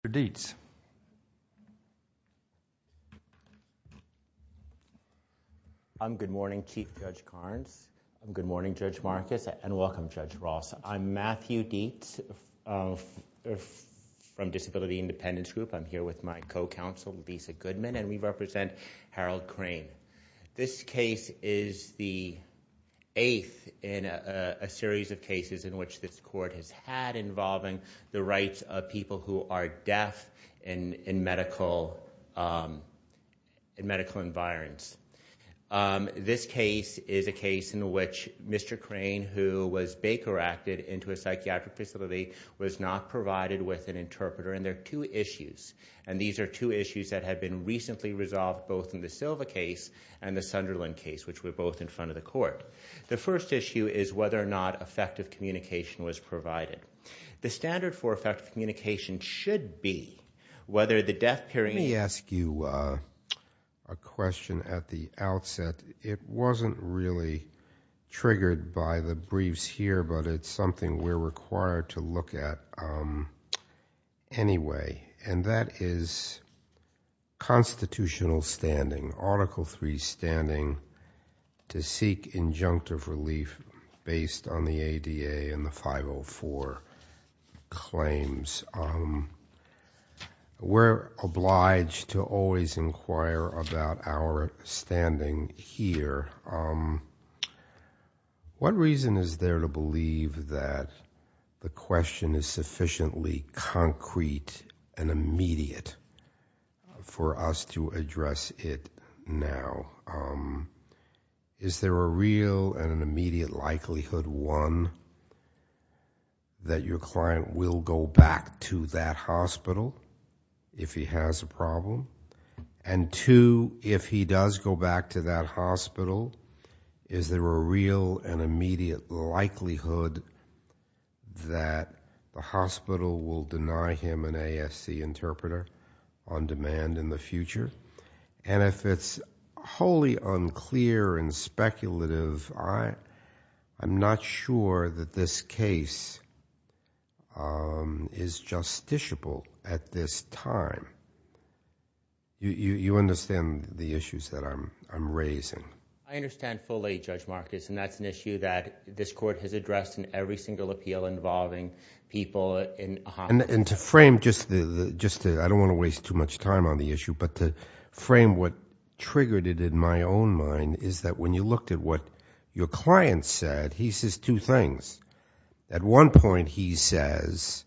I'm Matthew Dietz from Disability Independence Group. I'm here with my co-counsel Lisa Goodman and we represent Harold Crane. This case is the eighth in a series of cases in which this death in medical environs. This case is a case in which Mr. Crane, who was Baker-acted into a psychiatric facility, was not provided with an interpreter. And there are two issues. And these are two issues that have been recently resolved both in the Silva case and the Sunderland case, which were both in front of the court. The first issue is whether or not effective communication was provided. The standard for effective communication should be whether the death period... Let me ask you a question at the outset. It wasn't really triggered by the briefs here, but it's something we're required to look at anyway. And that is constitutional standing, Article III standing to seek injunctive relief based on the ADA and the 504 claims. We're obliged to always inquire about our standing here. What reason is there to believe that the question is sufficiently concrete and immediate for us to address it now? Is there a real and an immediate likelihood, one, that your client will go back to that hospital if he has a problem? And two, if he does go back to that hospital, is there a real and an immediate likelihood that the hospital will deny him an ASC interpreter on demand in the future? And if it's wholly unclear and speculative, I'm not sure that this case is justiciable at this time. You understand the issues that I'm raising? I understand fully, Judge Marcus, and that's an issue that this Court has addressed in every single appeal involving people in a hospital. And to frame just the, I don't want to waste too much time on the issue, but to frame what triggered it in my own mind is that when you looked at what your client said, he says two things. At one point he says,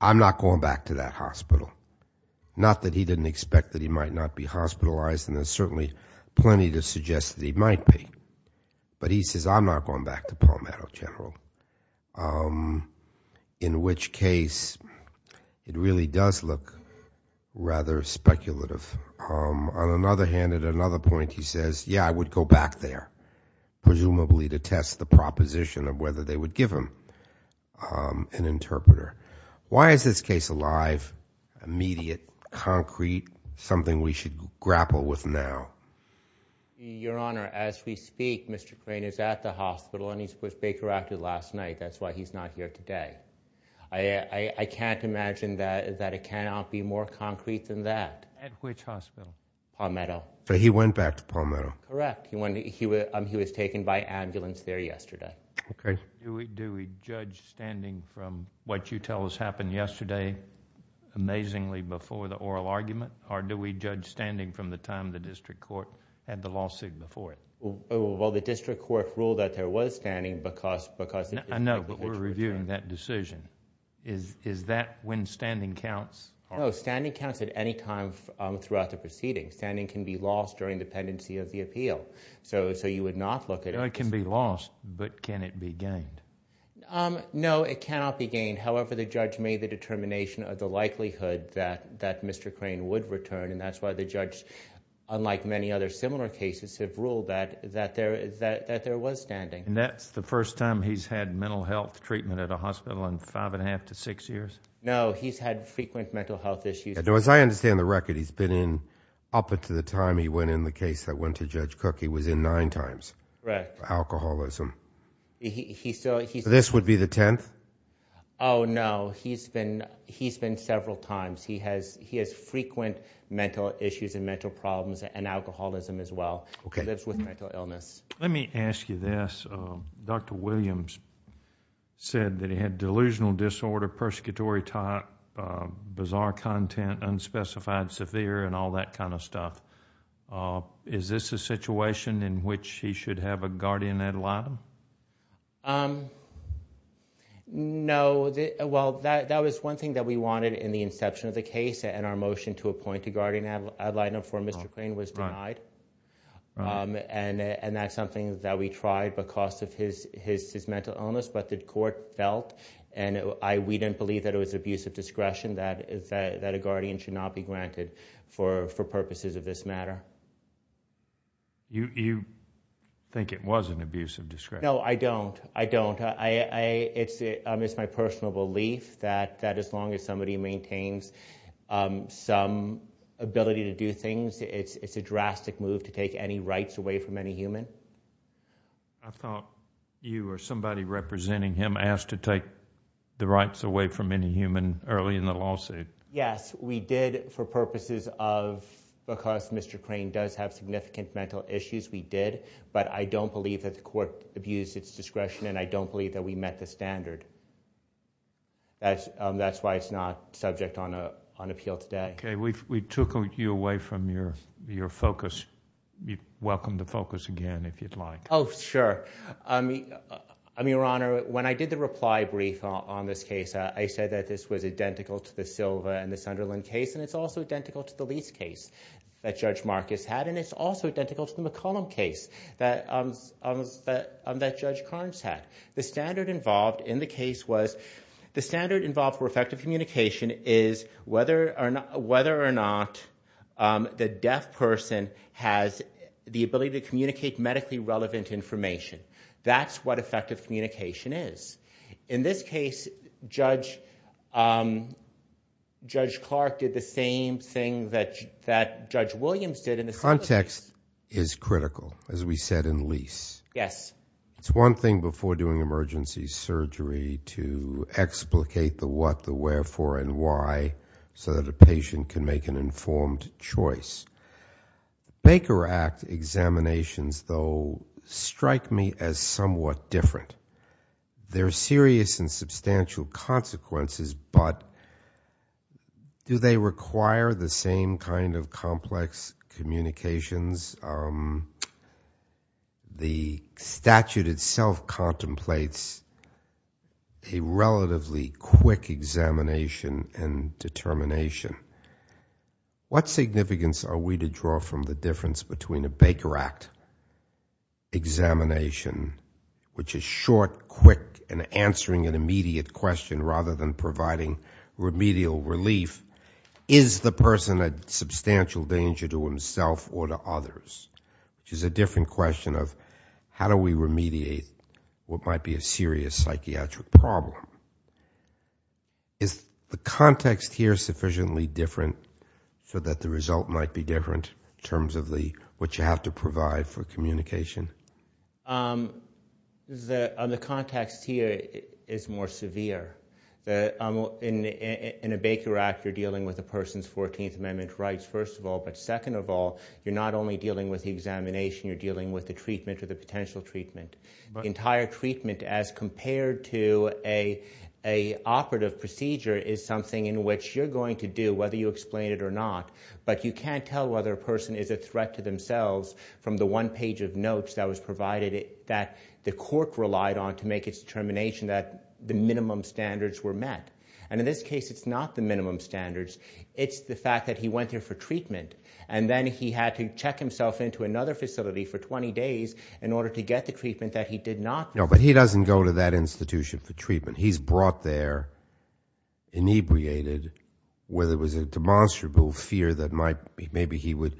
I'm not going back to that hospital. Not that he didn't expect that he might not be hospitalized, and there's certainly plenty to suggest that he might be. But he says, I'm not going back to Palmetto General, in which case it really does look rather speculative. On another hand, at another point he says, yeah, I would go back there, presumably to test the proposition of whether they would give him an interpreter. Why is this case alive, immediate, concrete, something we should grapple with now? Your Honor, as we speak, Mr. Crane is at the hospital, and he was Baker Acted last night. That's why he's not here today. I can't imagine that it cannot be more concrete than that. At which hospital? Palmetto. So he went back to Palmetto. Correct. He was taken by ambulance there yesterday. Okay. Do we judge standing from what you tell has happened yesterday, amazingly, before the district court had the lawsuit before it? Well, the district court ruled that there was standing because... I know, but we're reviewing that decision. Is that when standing counts? No, standing counts at any time throughout the proceeding. Standing can be lost during the pendency of the appeal. So you would not look at... It can be lost, but can it be gained? No, it cannot be gained. However, the judge made the determination of the likelihood that any other similar cases have ruled that there was standing. That's the first time he's had mental health treatment at a hospital in five and a half to six years? No, he's had frequent mental health issues. Now, as I understand the record, he's been in... up until the time he went in the case that went to Judge Cook, he was in nine times for alcoholism. This would be the tenth? Oh, no. He's been several times. He has frequent mental issues and mental problems and alcoholism as well. He lives with mental illness. Let me ask you this. Dr. Williams said that he had delusional disorder, persecutory type, bizarre content, unspecified severe, and all that kind of stuff. Is this a situation in which he should have a guardian ad litem? No. Well, that was one thing that we wanted in the inception of the case, and our motion to appoint a guardian ad litem for Mr. Klain was denied. That's something that we tried because of his mental illness, but the court felt, and we didn't believe that it was abusive discretion that a guardian should not be granted for purposes of this matter. You think it was an abusive discretion? No, I don't. I don't. It's my personal belief that as long as somebody maintains some ability to do things, it's a drastic move to take any rights away from any human. I thought you were somebody representing him asked to take the rights away from any human early in the lawsuit. Yes, we did for purposes of, because Mr. Klain does have significant mental issues, we did, but I don't believe that the court abused its discretion, and I don't believe that we met the standard. That's why it's not subject on appeal today. We took you away from your focus. You're welcome to focus again if you'd like. Oh, sure. Your Honor, when I did the reply brief on this case, I said that this was identical to the Silva and the Sunderland case, and it's also identical to the Lease case that Judge Carnes had. The standard involved in the case was, the standard involved for effective communication is whether or not the deaf person has the ability to communicate medically relevant information. That's what effective communication is. In this case, Judge Clark did the same thing that Judge Williams did in the Silva case. Context is critical, as we said in Lease. Yes. It's one thing before doing emergency surgery to explicate the what, the wherefore, and why so that a patient can make an informed choice. Baker Act examinations, though, strike me as somewhat different. There are serious and substantial consequences, but do they require the same kind of complex communications? The statute itself contemplates a relatively quick examination and determination. What significance are we to draw from the difference between a Baker Act examination, which is short, quick, and answering an immediate question rather than providing remedial relief? Is the person a substantial danger to himself or to others, which is a different question of how do we remediate what might be a serious psychiatric problem? Is the context here sufficiently different so that the result might be different in terms of what you have to provide for communication? The context here is more severe. In a Baker Act, you're dealing with a person's Fourteenth Amendment rights, first of all, but second of all, you're not only dealing with the examination, you're dealing with the treatment or the potential treatment. Entire treatment as compared to an operative procedure is something in which you're going to do, whether you explain it or not, but you can't tell whether a person is a threat to themselves from the one page of notes that was provided that the court relied on to make its determination that the minimum standards were met. In this case, it's not the minimum standards. It's the fact that he went there for treatment, and then he had to check himself into another facility for 20 days in order to get the treatment that he did not need. No, but he doesn't go to that institution for treatment. He's brought there, inebriated, where there was a demonstrable fear that maybe he would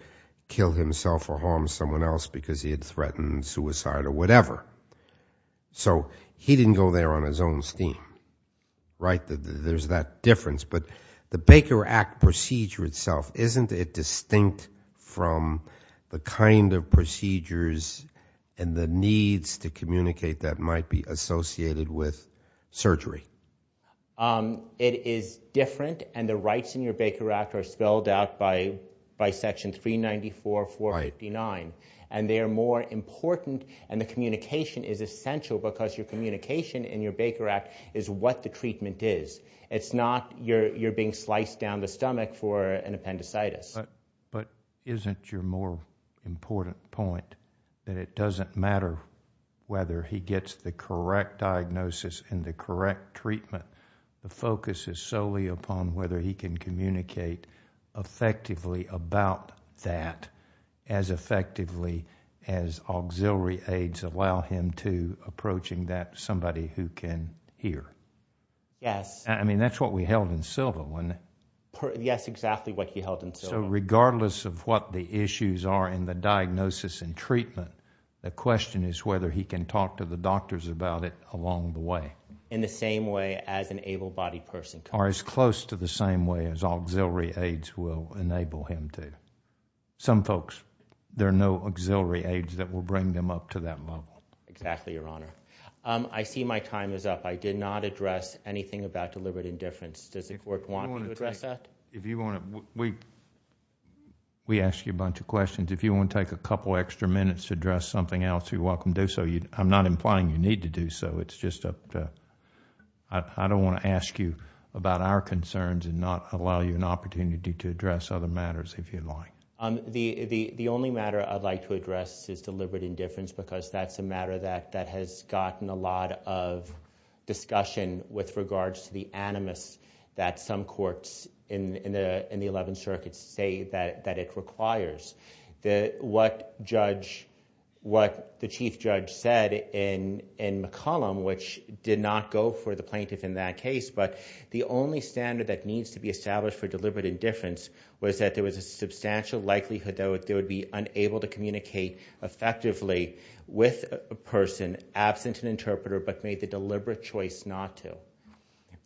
kill himself or harm someone else because he had threatened suicide or whatever. So he didn't go there on his own steam, right? There's that difference, but the Baker Act procedure itself, isn't it distinct from the kind of procedures and the needs to communicate that might be associated with surgery? It is different, and the rights in your Baker Act are spelled out by Section 394, 459, and they are more important, and the communication is essential because your communication in your Baker Act is what the treatment is. It's not you're being sliced down the stomach for an appendicitis. But isn't your more important point that it doesn't matter whether he gets the correct diagnosis and the correct treatment? The focus is solely upon whether he can communicate effectively about that as effectively as auxiliary aids allow him to, approaching that somebody who can hear. Yes. I mean, that's what we held in Sylva, wasn't it? Yes, exactly what he held in Sylva. So regardless of what the issues are in the diagnosis and treatment, the question is whether he can talk to the doctors about it along the way. In the same way as an able-bodied person can. Or as close to the same way as auxiliary aids will enable him to. Some folks, there are no auxiliary aids that will bring them up to that level. Exactly, Your Honor. I see my time is up. I did not address anything about deliberate indifference. Does the Court want to address that? We ask you a bunch of questions. If you want to take a couple extra minutes to address something else, you're welcome to do so. I'm not implying you need to do so. It's just I don't want to ask you about our concerns and not allow you an opportunity to address other matters if you'd like. The only matter I'd like to address is deliberate indifference because that's a matter that has gotten a lot of discussion with regards to the animus that some courts in the Eleventh Circuit say that it requires. What the Chief Judge said in McCollum, which did not go for the plaintiff in that case, but the only standard that needs to be established for deliberate indifference was that there was a substantial likelihood that they would be unable to communicate effectively with a person absent an interpreter but made the deliberate choice not to.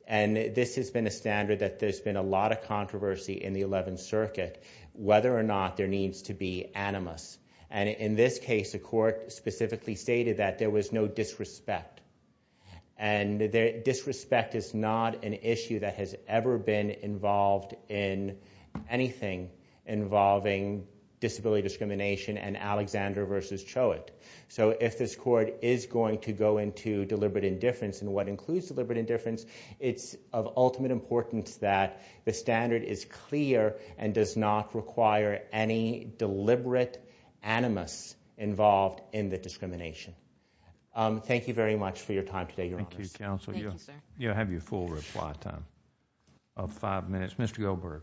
This has been a standard that there's been a lot of controversy in the Eleventh Circuit whether or not there needs to be animus. In this case, the court specifically stated that there was no disrespect. Disrespect is not an issue that has ever been involved in anything involving disability discrimination and Alexander v. Choate. If this court is going to go into deliberate indifference and what includes deliberate indifference, it's important that the standard is clear and does not require any deliberate animus involved in the discrimination. Thank you very much for your time today, Your Honors. Thank you, Counsel. You'll have your full reply time of five minutes. Mr. Goldberg.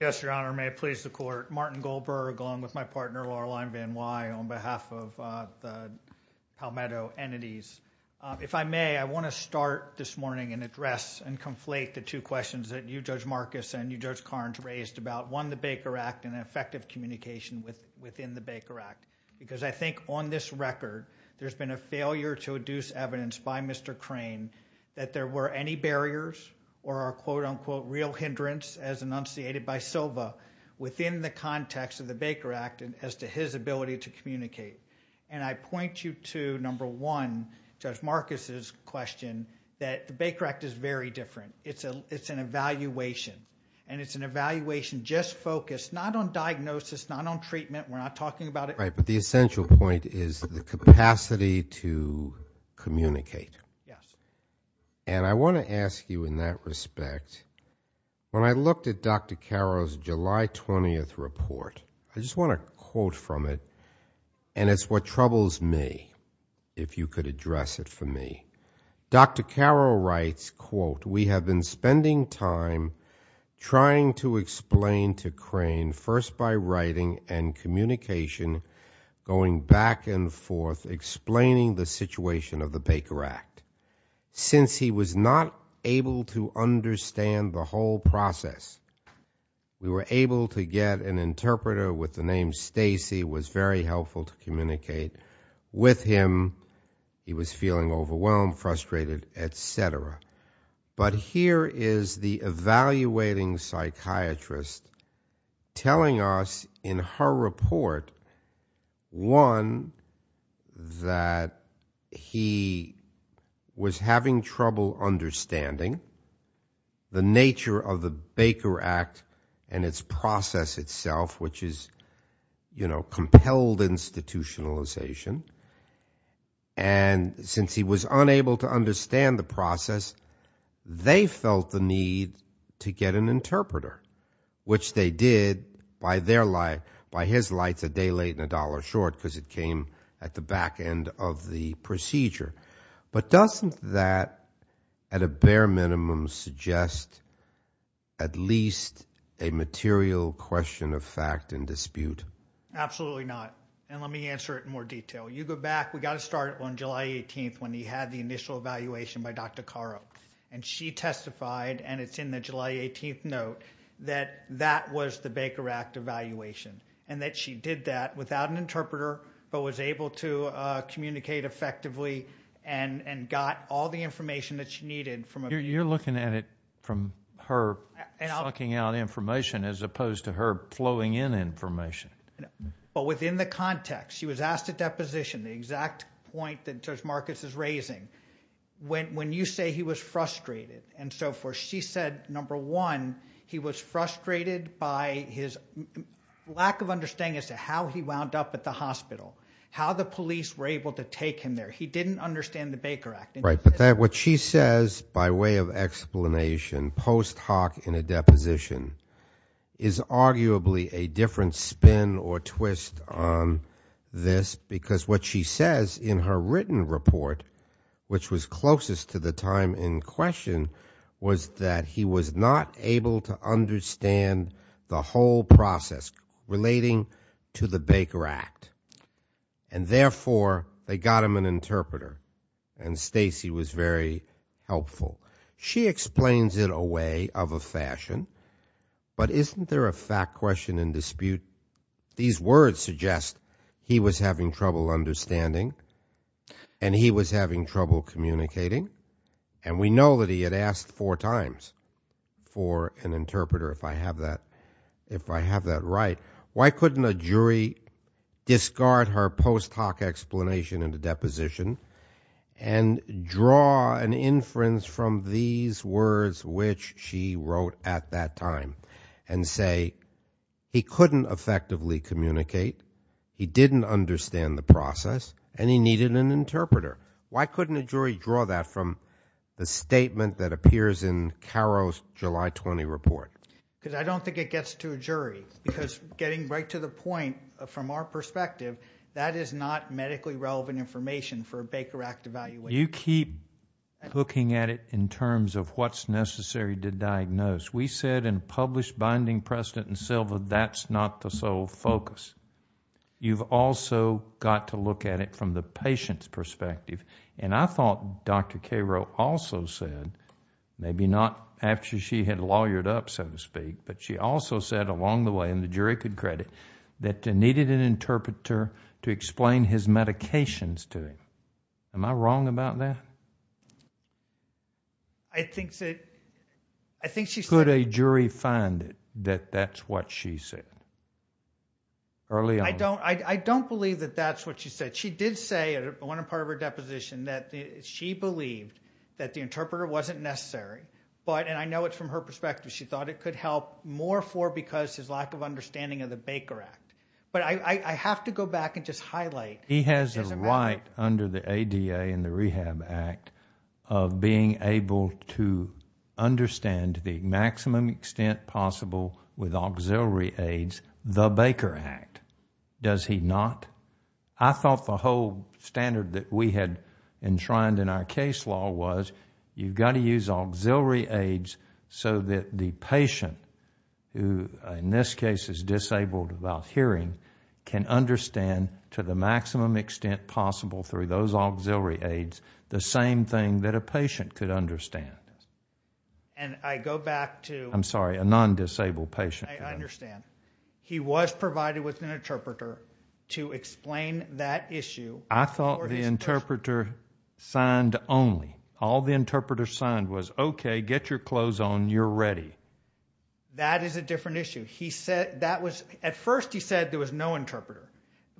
Yes, Your Honor. May it please the Court. Martin Goldberg along with my partner, Laurel Aynvand-Wye, on behalf of the Palmetto entities. If I may, I want to start this morning and address and conflate the two questions that you, Judge Marcus, and you, Judge Carnes, raised about, one, the Baker Act and effective communication within the Baker Act. Because I think on this record, there's been a failure to adduce evidence by Mr. Crane that there were any barriers or a quote-unquote real hindrance as enunciated by Silva within the context of the Baker Act as to his ability to communicate. And I point you to, number one, Judge Marcus's question that the Baker Act is very different. It's an evaluation. And it's an evaluation just focused not on diagnosis, not on treatment, we're not talking about it... Right. But the essential point is the capacity to communicate. And I want to ask you in that respect, when I looked at Dr. Caro's July 20th report, I just want to quote from it, and it's what troubles me, if you could address it for me. Dr. Caro writes, quote, we have been spending time trying to explain to Crane, first by writing and communication, going back and forth, explaining the situation of the Baker Act. Since he was not able to understand the whole process, we were able to get an interpreter with the name Stacy, was very helpful to communicate with him. He was feeling overwhelmed, frustrated, et cetera. But here is the evaluating psychiatrist telling us in her report, one, that he was having trouble understanding the nature of the Baker Act and its process itself, which is, you know, compelled institutionalization. And since he was unable to understand the process, they felt the need to get an interpreter, which they did by his lights a day late and a dollar short, because it came at the back end of the procedure. But doesn't that, at a bare minimum, suggest at least a material question of fact and dispute? Absolutely not. And let me answer it in more detail. You go back, we got it started on July 18th when he had the initial evaluation by Dr. Caro. And she testified, and it's in the July 18th note, that that was the Baker Act evaluation. And that she did that without an interpreter, but was able to communicate effectively and got all the information that she needed from a... You're looking at it from her sucking out information as opposed to her flowing in information. But within the context, she was asked a deposition, the exact point that Judge Marcus is raising. When you say he was frustrated and so forth, she said, number one, he was frustrated by his lack of understanding as to how he wound up at the hospital, how the police were able to take him there. He didn't understand the Baker Act. Right. But what she says by way of explanation, post hoc in a deposition, is arguably a different spin or twist on this. Because what she says in her written report, which was closest to the time in question, was that he was not able to understand the whole process relating to the Baker Act. And therefore, they got him an interpreter. And Stacy was very helpful. She explains it a way, of a fashion. But isn't there a fact question and dispute? These words suggest he was having trouble understanding and he was having trouble communicating. And we know that he had asked four times for an interpreter, if I have that right. Why couldn't a jury discard her post hoc explanation in the deposition and draw an inference from these words which she wrote at that time? And say, he couldn't effectively communicate, he didn't understand the process, and he needed an interpreter. Why couldn't a jury draw that from the statement that appears in Caro's July 20 report? Because I don't think it gets to a jury. Because getting right to the point, from our perspective, that is not medically relevant information for a Baker Act evaluation. You keep looking at it in terms of what's necessary to diagnose. We said in a published binding precedent in Silva, that's not the sole focus. You've also got to look at it from the patient's perspective. And I thought Dr. Caro also said, maybe not after she had lawyered up, so to speak, but she also said along the way, and the jury could credit, that they needed an interpreter to explain his medications to him. Am I wrong about that? I think that, I think she said... Could a jury find it, that that's what she said, early on? I don't believe that that's what she said. She did say, at one part of her deposition, that she believed that the interpreter wasn't necessary, but, and I know it's from her perspective, she thought it could help more for because his lack of understanding of the Baker Act. But I have to go back and just highlight... He has a right, under the ADA and the Rehab Act, of being able to understand to the maximum extent possible, with auxiliary aids, the Baker Act. Does he not? I thought the whole standard that we had enshrined in our case law was, you've got to use auxiliary aids so that the patient, who in this case is disabled without hearing, can understand to the maximum extent possible, through those auxiliary aids, the same thing that a patient could understand. And I go back to... I'm sorry, a non-disabled patient. I understand. He was provided with an interpreter to explain that issue. I thought the interpreter signed only. All the interpreter signed was, okay, get your clothes on, you're ready. That is a different issue. He said, that was... At first he said there was no interpreter.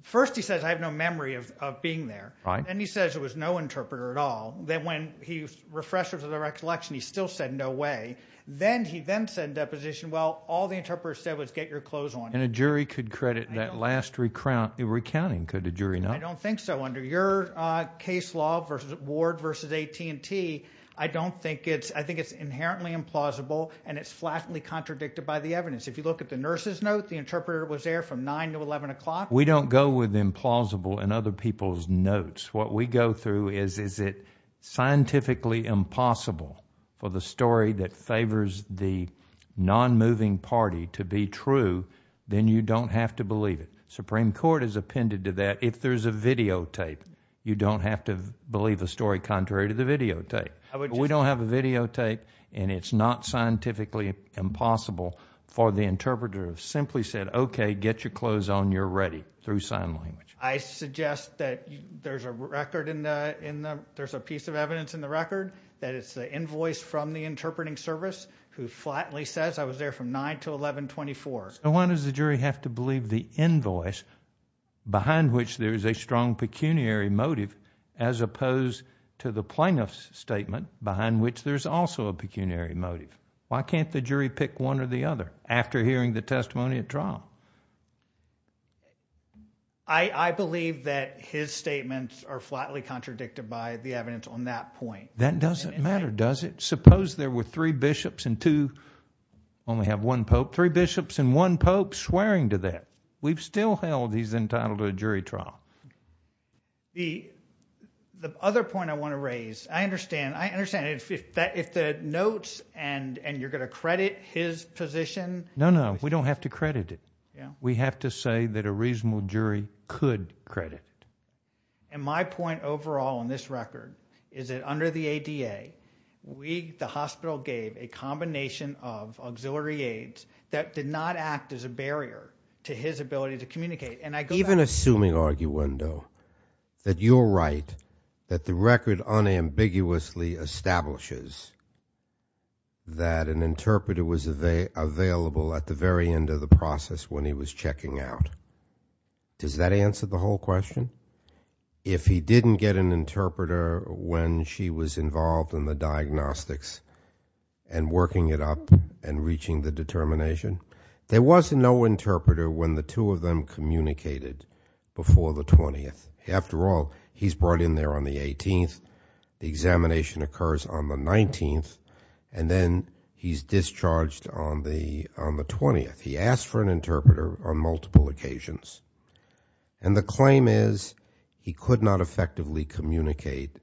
First he says, I have no memory of being there. Then he says there was no interpreter at all. Then when he refreshed the recollection, he still said, no way. Then he then said in deposition, well, all the interpreter said was, get your clothes on. And a jury could credit that last recounting, could the jury not? I don't think so. Under your case law, Ward versus AT&T, I don't think it's... I think it's inherently implausible and it's flatly contradicted by the evidence. If you look at the nurse's note, the interpreter was there from 9 to 11 o'clock. We don't go with implausible in other people's notes. What we go through is, is it scientifically impossible for the story that favors the non-moving party to be true, then you don't have to believe it. Supreme Court has appended to that. If there's a videotape, you don't have to believe the story contrary to the videotape. We don't have a videotape and it's not scientifically impossible for the interpreter to have simply said, okay, get your clothes on, you're ready, through sign language. I suggest that there's a record in the... There's a piece of evidence in the record that it's the invoice from the interpreting service who flatly says, I was there from 9 to 11, 24. So why does the jury have to believe the invoice behind which there is a strong pecuniary motive as opposed to the plaintiff's statement behind which there's also a pecuniary motive? Why can't the jury pick one or the other after hearing the testimony at trial? I believe that his statements are flatly contradicted by the evidence on that point. That doesn't matter, does it? Suppose there were three bishops and two, only have one pope, three bishops and one pope swearing to that. We've still held he's entitled to a jury trial. The other point I want to raise, I understand if the notes and you're going to credit his position... No, no. We don't have to credit it. We have to say that a reasonable jury could credit it. And my point overall on this record is that under the ADA, the hospital gave a combination of auxiliary aids that did not act as a barrier to his ability to communicate. Even assuming, Arguendo, that you're right, that the record unambiguously establishes that an interpreter was available at the very end of the process when he was checking out, does that answer the whole question? If he didn't get an interpreter when she was involved in the diagnostics and working it and reaching the determination, there was no interpreter when the two of them communicated before the 20th. After all, he's brought in there on the 18th, the examination occurs on the 19th, and then he's discharged on the 20th. He asked for an interpreter on multiple occasions. And the claim is he could not effectively communicate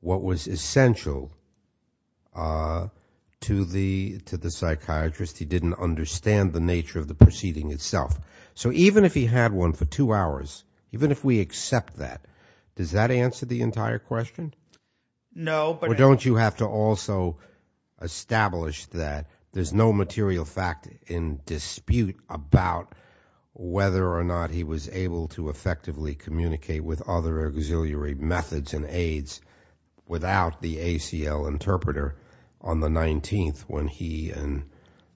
what was essential to the psychiatrist. He didn't understand the nature of the proceeding itself. So even if he had one for two hours, even if we accept that, does that answer the entire question? No, but... Or don't you have to also establish that there's no material fact in dispute about whether or not he was able to effectively communicate with other auxiliary methods and aids without the ACL interpreter on the 19th when he and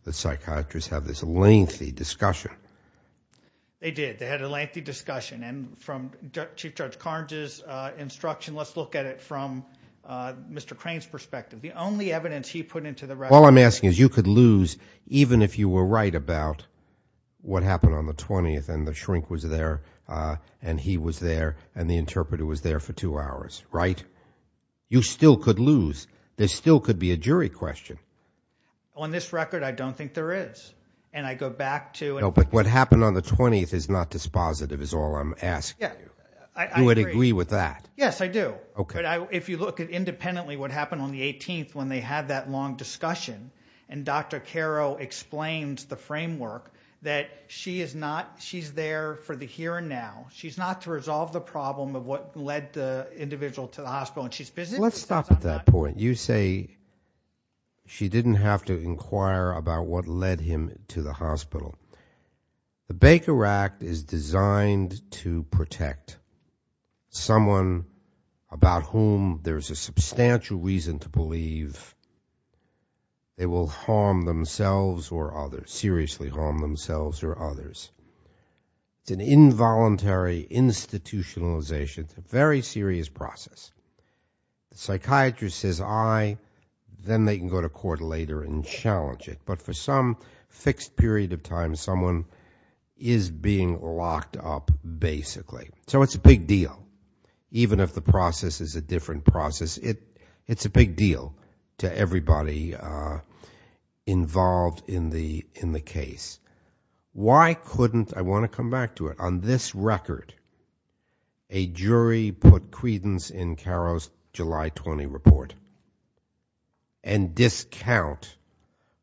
the psychiatrist have this lengthy discussion? They did. They had a lengthy discussion. And from Chief Judge Carnes' instruction, let's look at it from Mr. Crane's perspective. The only evidence he put into the record... The shrink was there, and he was there, and the interpreter was there for two hours, right? You still could lose. There still could be a jury question. On this record, I don't think there is. And I go back to... No, but what happened on the 20th is not dispositive is all I'm asking you. Yeah. I agree. You would agree with that? Yes, I do. Okay. But if you look at independently what happened on the 18th when they had that long discussion, and Dr. Caro explains the framework that she is not... She's there for the here and now. She's not to resolve the problem of what led the individual to the hospital, and she's busy... Let's stop at that point. You say she didn't have to inquire about what led him to the hospital. The Baker Act is designed to protect someone about whom there's a substantial reason to believe they will harm themselves or others, seriously harm themselves or others. It's an involuntary institutionalization. It's a very serious process. The psychiatrist says, I, then they can go to court later and challenge it. But for some fixed period of time, someone is being locked up, basically. So it's a big deal, even if the process is a different process. It's a big deal to everybody involved in the case. Why couldn't... I want to come back to it. On this record, a jury put credence in Caro's July 20 report and discount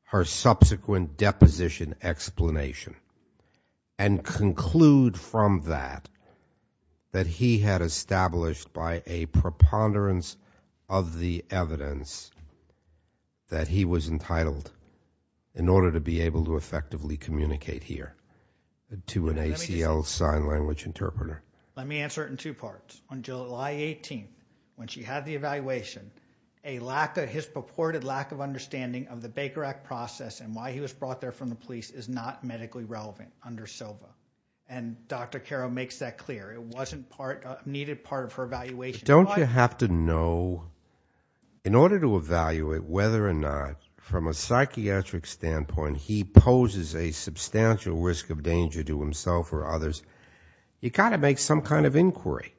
her subsequent deposition explanation and conclude from that that he had established by a preponderance of the evidence that he was entitled, in order to be able to effectively communicate here to an ACL sign language interpreter. Let me answer it in two parts. On July 18th, when she had the evaluation, a lack of his purported lack of understanding of the Baker Act process and why he was brought there from the police is not medically relevant under SOBA. And Dr. Caro makes that clear. It wasn't part, needed part of her evaluation. Don't you have to know, in order to evaluate whether or not, from a psychiatric standpoint, he poses a substantial risk of danger to himself or others, you've got to make some kind of inquiry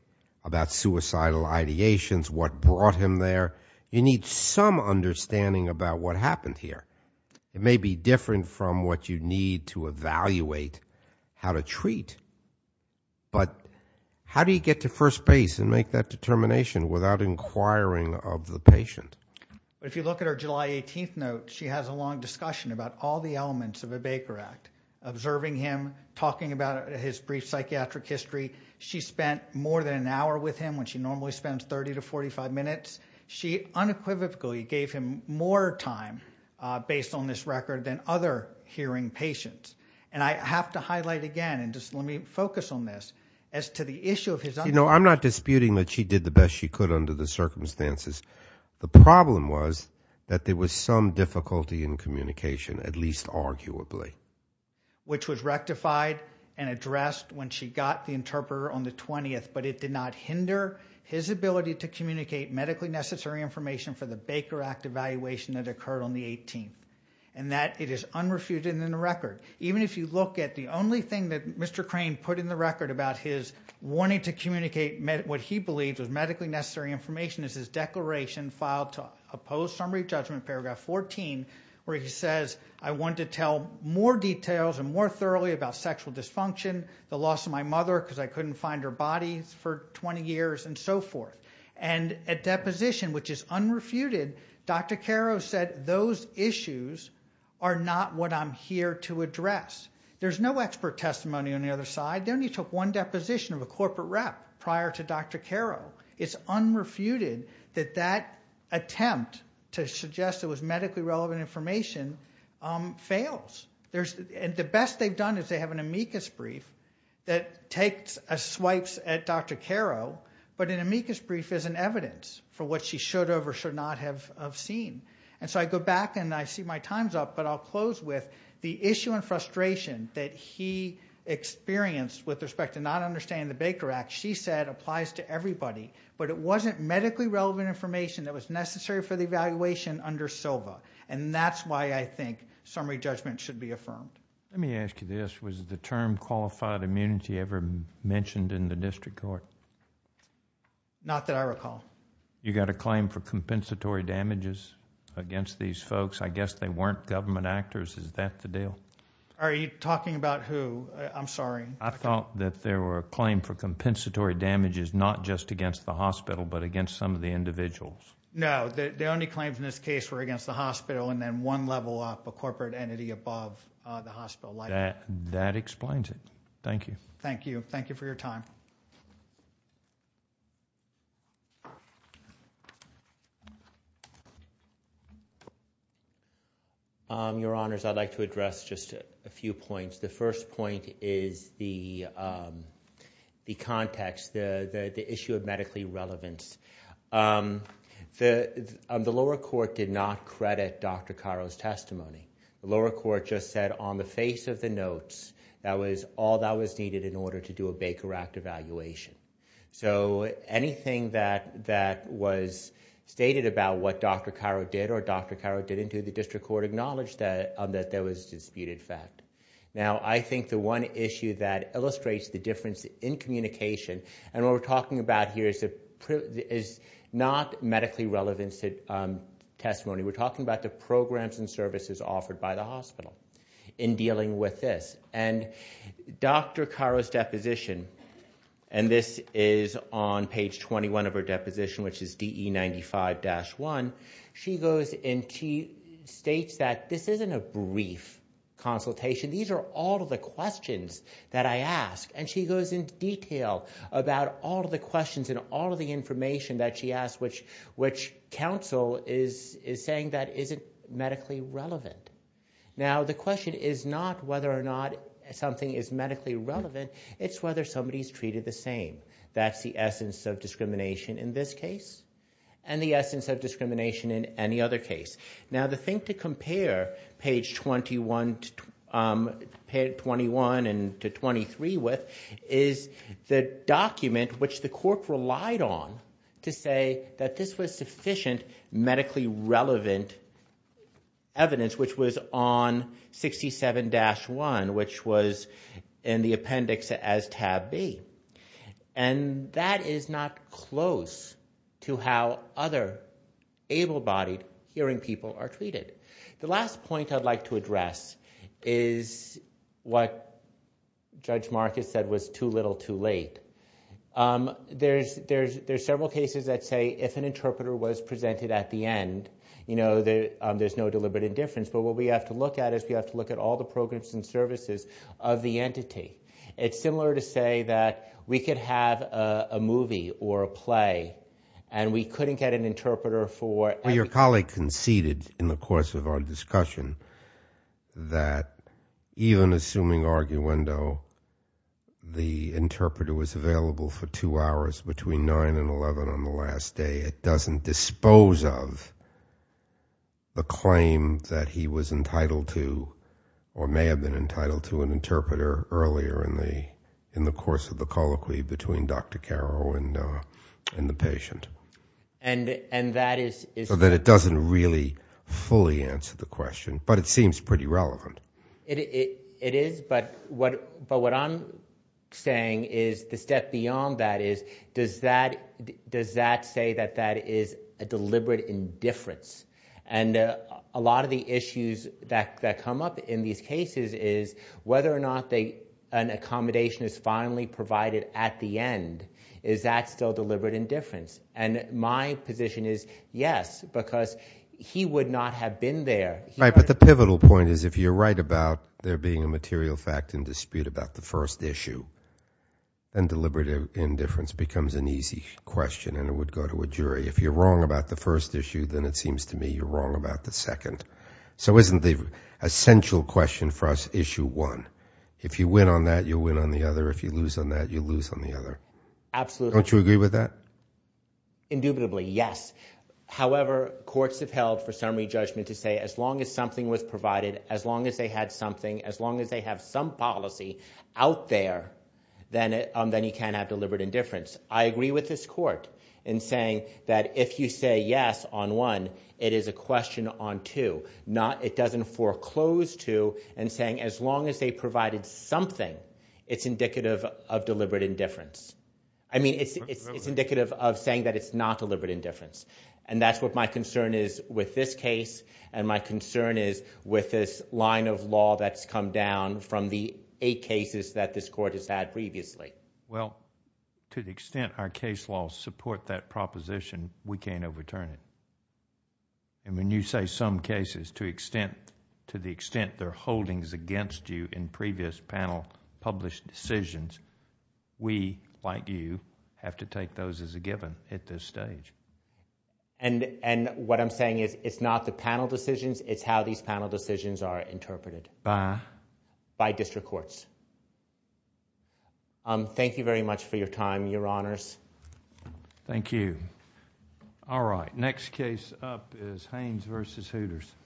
about suicidal ideations, what brought him there. You need some understanding about what happened here. It may be different from what you need to evaluate how to treat, but how do you get to first base and make that determination without inquiring of the patient? If you look at her July 18th note, she has a long discussion about all the elements of a Baker Act, observing him, talking about his brief psychiatric history. She spent more than an hour with him when she normally spends 30 to 45 minutes. She unequivocally gave him more time, based on this record, than other hearing patients. And I have to highlight again, and just let me focus on this, as to the issue of his... You know, I'm not disputing that she did the best she could under the circumstances. The problem was that there was some difficulty in communication, at least arguably. Which was rectified and addressed when she got the interpreter on the 20th, but it did not hinder his ability to communicate medically necessary information for the Baker Act evaluation that occurred on the 18th. And that, it is unrefuted in the record. Even if you look at the only thing that Mr. Crane put in the record about his wanting to communicate what he believed was medically necessary information is his declaration filed to oppose summary judgment, paragraph 14, where he says, I want to tell more details and more thoroughly about sexual dysfunction, the loss of my mother because I couldn't find her body for 20 years, and so forth. And at deposition, which is unrefuted, Dr. Caro said, those issues are not what I'm here to address. There's no expert testimony on the other side. They only took one deposition of a corporate rep prior to Dr. Caro. It's unrefuted that that attempt to suggest it was medically relevant information fails. The best they've done is they have an amicus brief that swipes at Dr. Caro, but an amicus brief isn't evidence for what she should or should not have seen. And so I go back and I see my time's up, but I'll close with the issue and frustration that he experienced with respect to not understanding the Baker Act. She said it applies to everybody, but it wasn't medically relevant information that was necessary for the evaluation under SOBA, and that's why I think summary judgment should be affirmed. Let me ask you this. Was the term qualified immunity ever mentioned in the district court? Not that I recall. You got a claim for compensatory damages against these folks. I guess they weren't government actors. Is that the deal? Are you talking about who? I'm sorry. I thought that there were a claim for compensatory damages not just against the hospital, but against some of the individuals. No. The only claims in this case were against the hospital and then one level up, a corporate entity above the hospital. That explains it. Thank you. Thank you. Thank you for your time. Your Honors, I'd like to address just a few points. The first point is the context, the issue of medically relevance. The lower court did not credit Dr. Caro's testimony. The lower court just said on the face of the notes that was all that was needed in order to do a Baker Act evaluation. Anything that was stated about what Dr. Caro did or Dr. Caro didn't do, the district court acknowledged that there was disputed fact. I think the one issue that illustrates the difference in communication and what we're talking about here is not medically relevance testimony. We're talking about the programs and services offered by the hospital in dealing with this. Dr. Caro's deposition, and this is on page 21 of her deposition, which is DE 95-1, she goes and she states that this isn't a brief consultation. These are all of the questions that I asked. She goes in detail about all of the questions and all of the information that she asked, which counsel is saying that isn't medically relevant. Now, the question is not whether or not something is medically relevant. It's whether somebody's treated the same. That's the essence of discrimination in this case and the essence of discrimination in any other case. Now, the thing to compare page 21 to 23 with is the document which the court relied on to say that this was sufficient medically relevant evidence, which was on 67-1, which was in the appendix as tab B. That is not close to how other able-bodied hearing people are treated. The last point I'd like to address is what Judge Marcus said was too little too late. There's several cases that say if an interpreter was presented at the end, there's no deliberate indifference, but what we have to look at is we have to look at all the programs and services of the entity. It's similar to say that we could have a movie or a play and we couldn't get an interpreter for every... Your colleague conceded in the course of our discussion that even assuming arguendo, the interpreter is available for two hours between 9 and 11 on the last day, it doesn't dispose of the claim that he was entitled to or may have been entitled to an interpreter earlier in the course of the colloquy between Dr. Caro and the patient. And that is... So that it doesn't really fully answer the question, but it seems pretty relevant. It is, but what I'm saying is the step beyond that is does that say that that is a deliberate indifference? And a lot of the issues that come up in these cases is whether or not an accommodation is finally provided at the end, is that still deliberate indifference? And my position is yes, because he would not have been there. Right, but the pivotal point is if you're right about there being a material fact and dispute about the first issue, then deliberate indifference becomes an easy question and it would go to a jury. If you're wrong about the first issue, then it seems to me you're wrong about the second. So isn't the essential question for us issue one? If you win on that, you win on the other. If you lose on that, you lose on the other. Absolutely. Don't you agree with that? Indubitably, yes. However, courts have held for summary judgment to say as long as something was provided, as long as they had something, as long as they have some policy out there, then you can have deliberate indifference. I agree with this court in saying that if you say yes on one, it is a question on two. It doesn't foreclose to and saying as long as they provided something, it's indicative of deliberate indifference. I mean, it's indicative of saying that it's not deliberate indifference and that's what my concern is with this case and my concern is with this line of law that's come down from the eight cases that this court has had previously. Well, to the extent our case laws support that proposition, we can't overturn it. When you say some cases to the extent their holdings against you in previous panel published decisions, we, like you, have to take those as a given at this stage. What I'm saying is it's not the panel decisions, it's how these panel decisions are interpreted. By? By district courts. Thank you very much for your time, Your Honors. Thank you. All right, next case up is Haynes v. Hooters.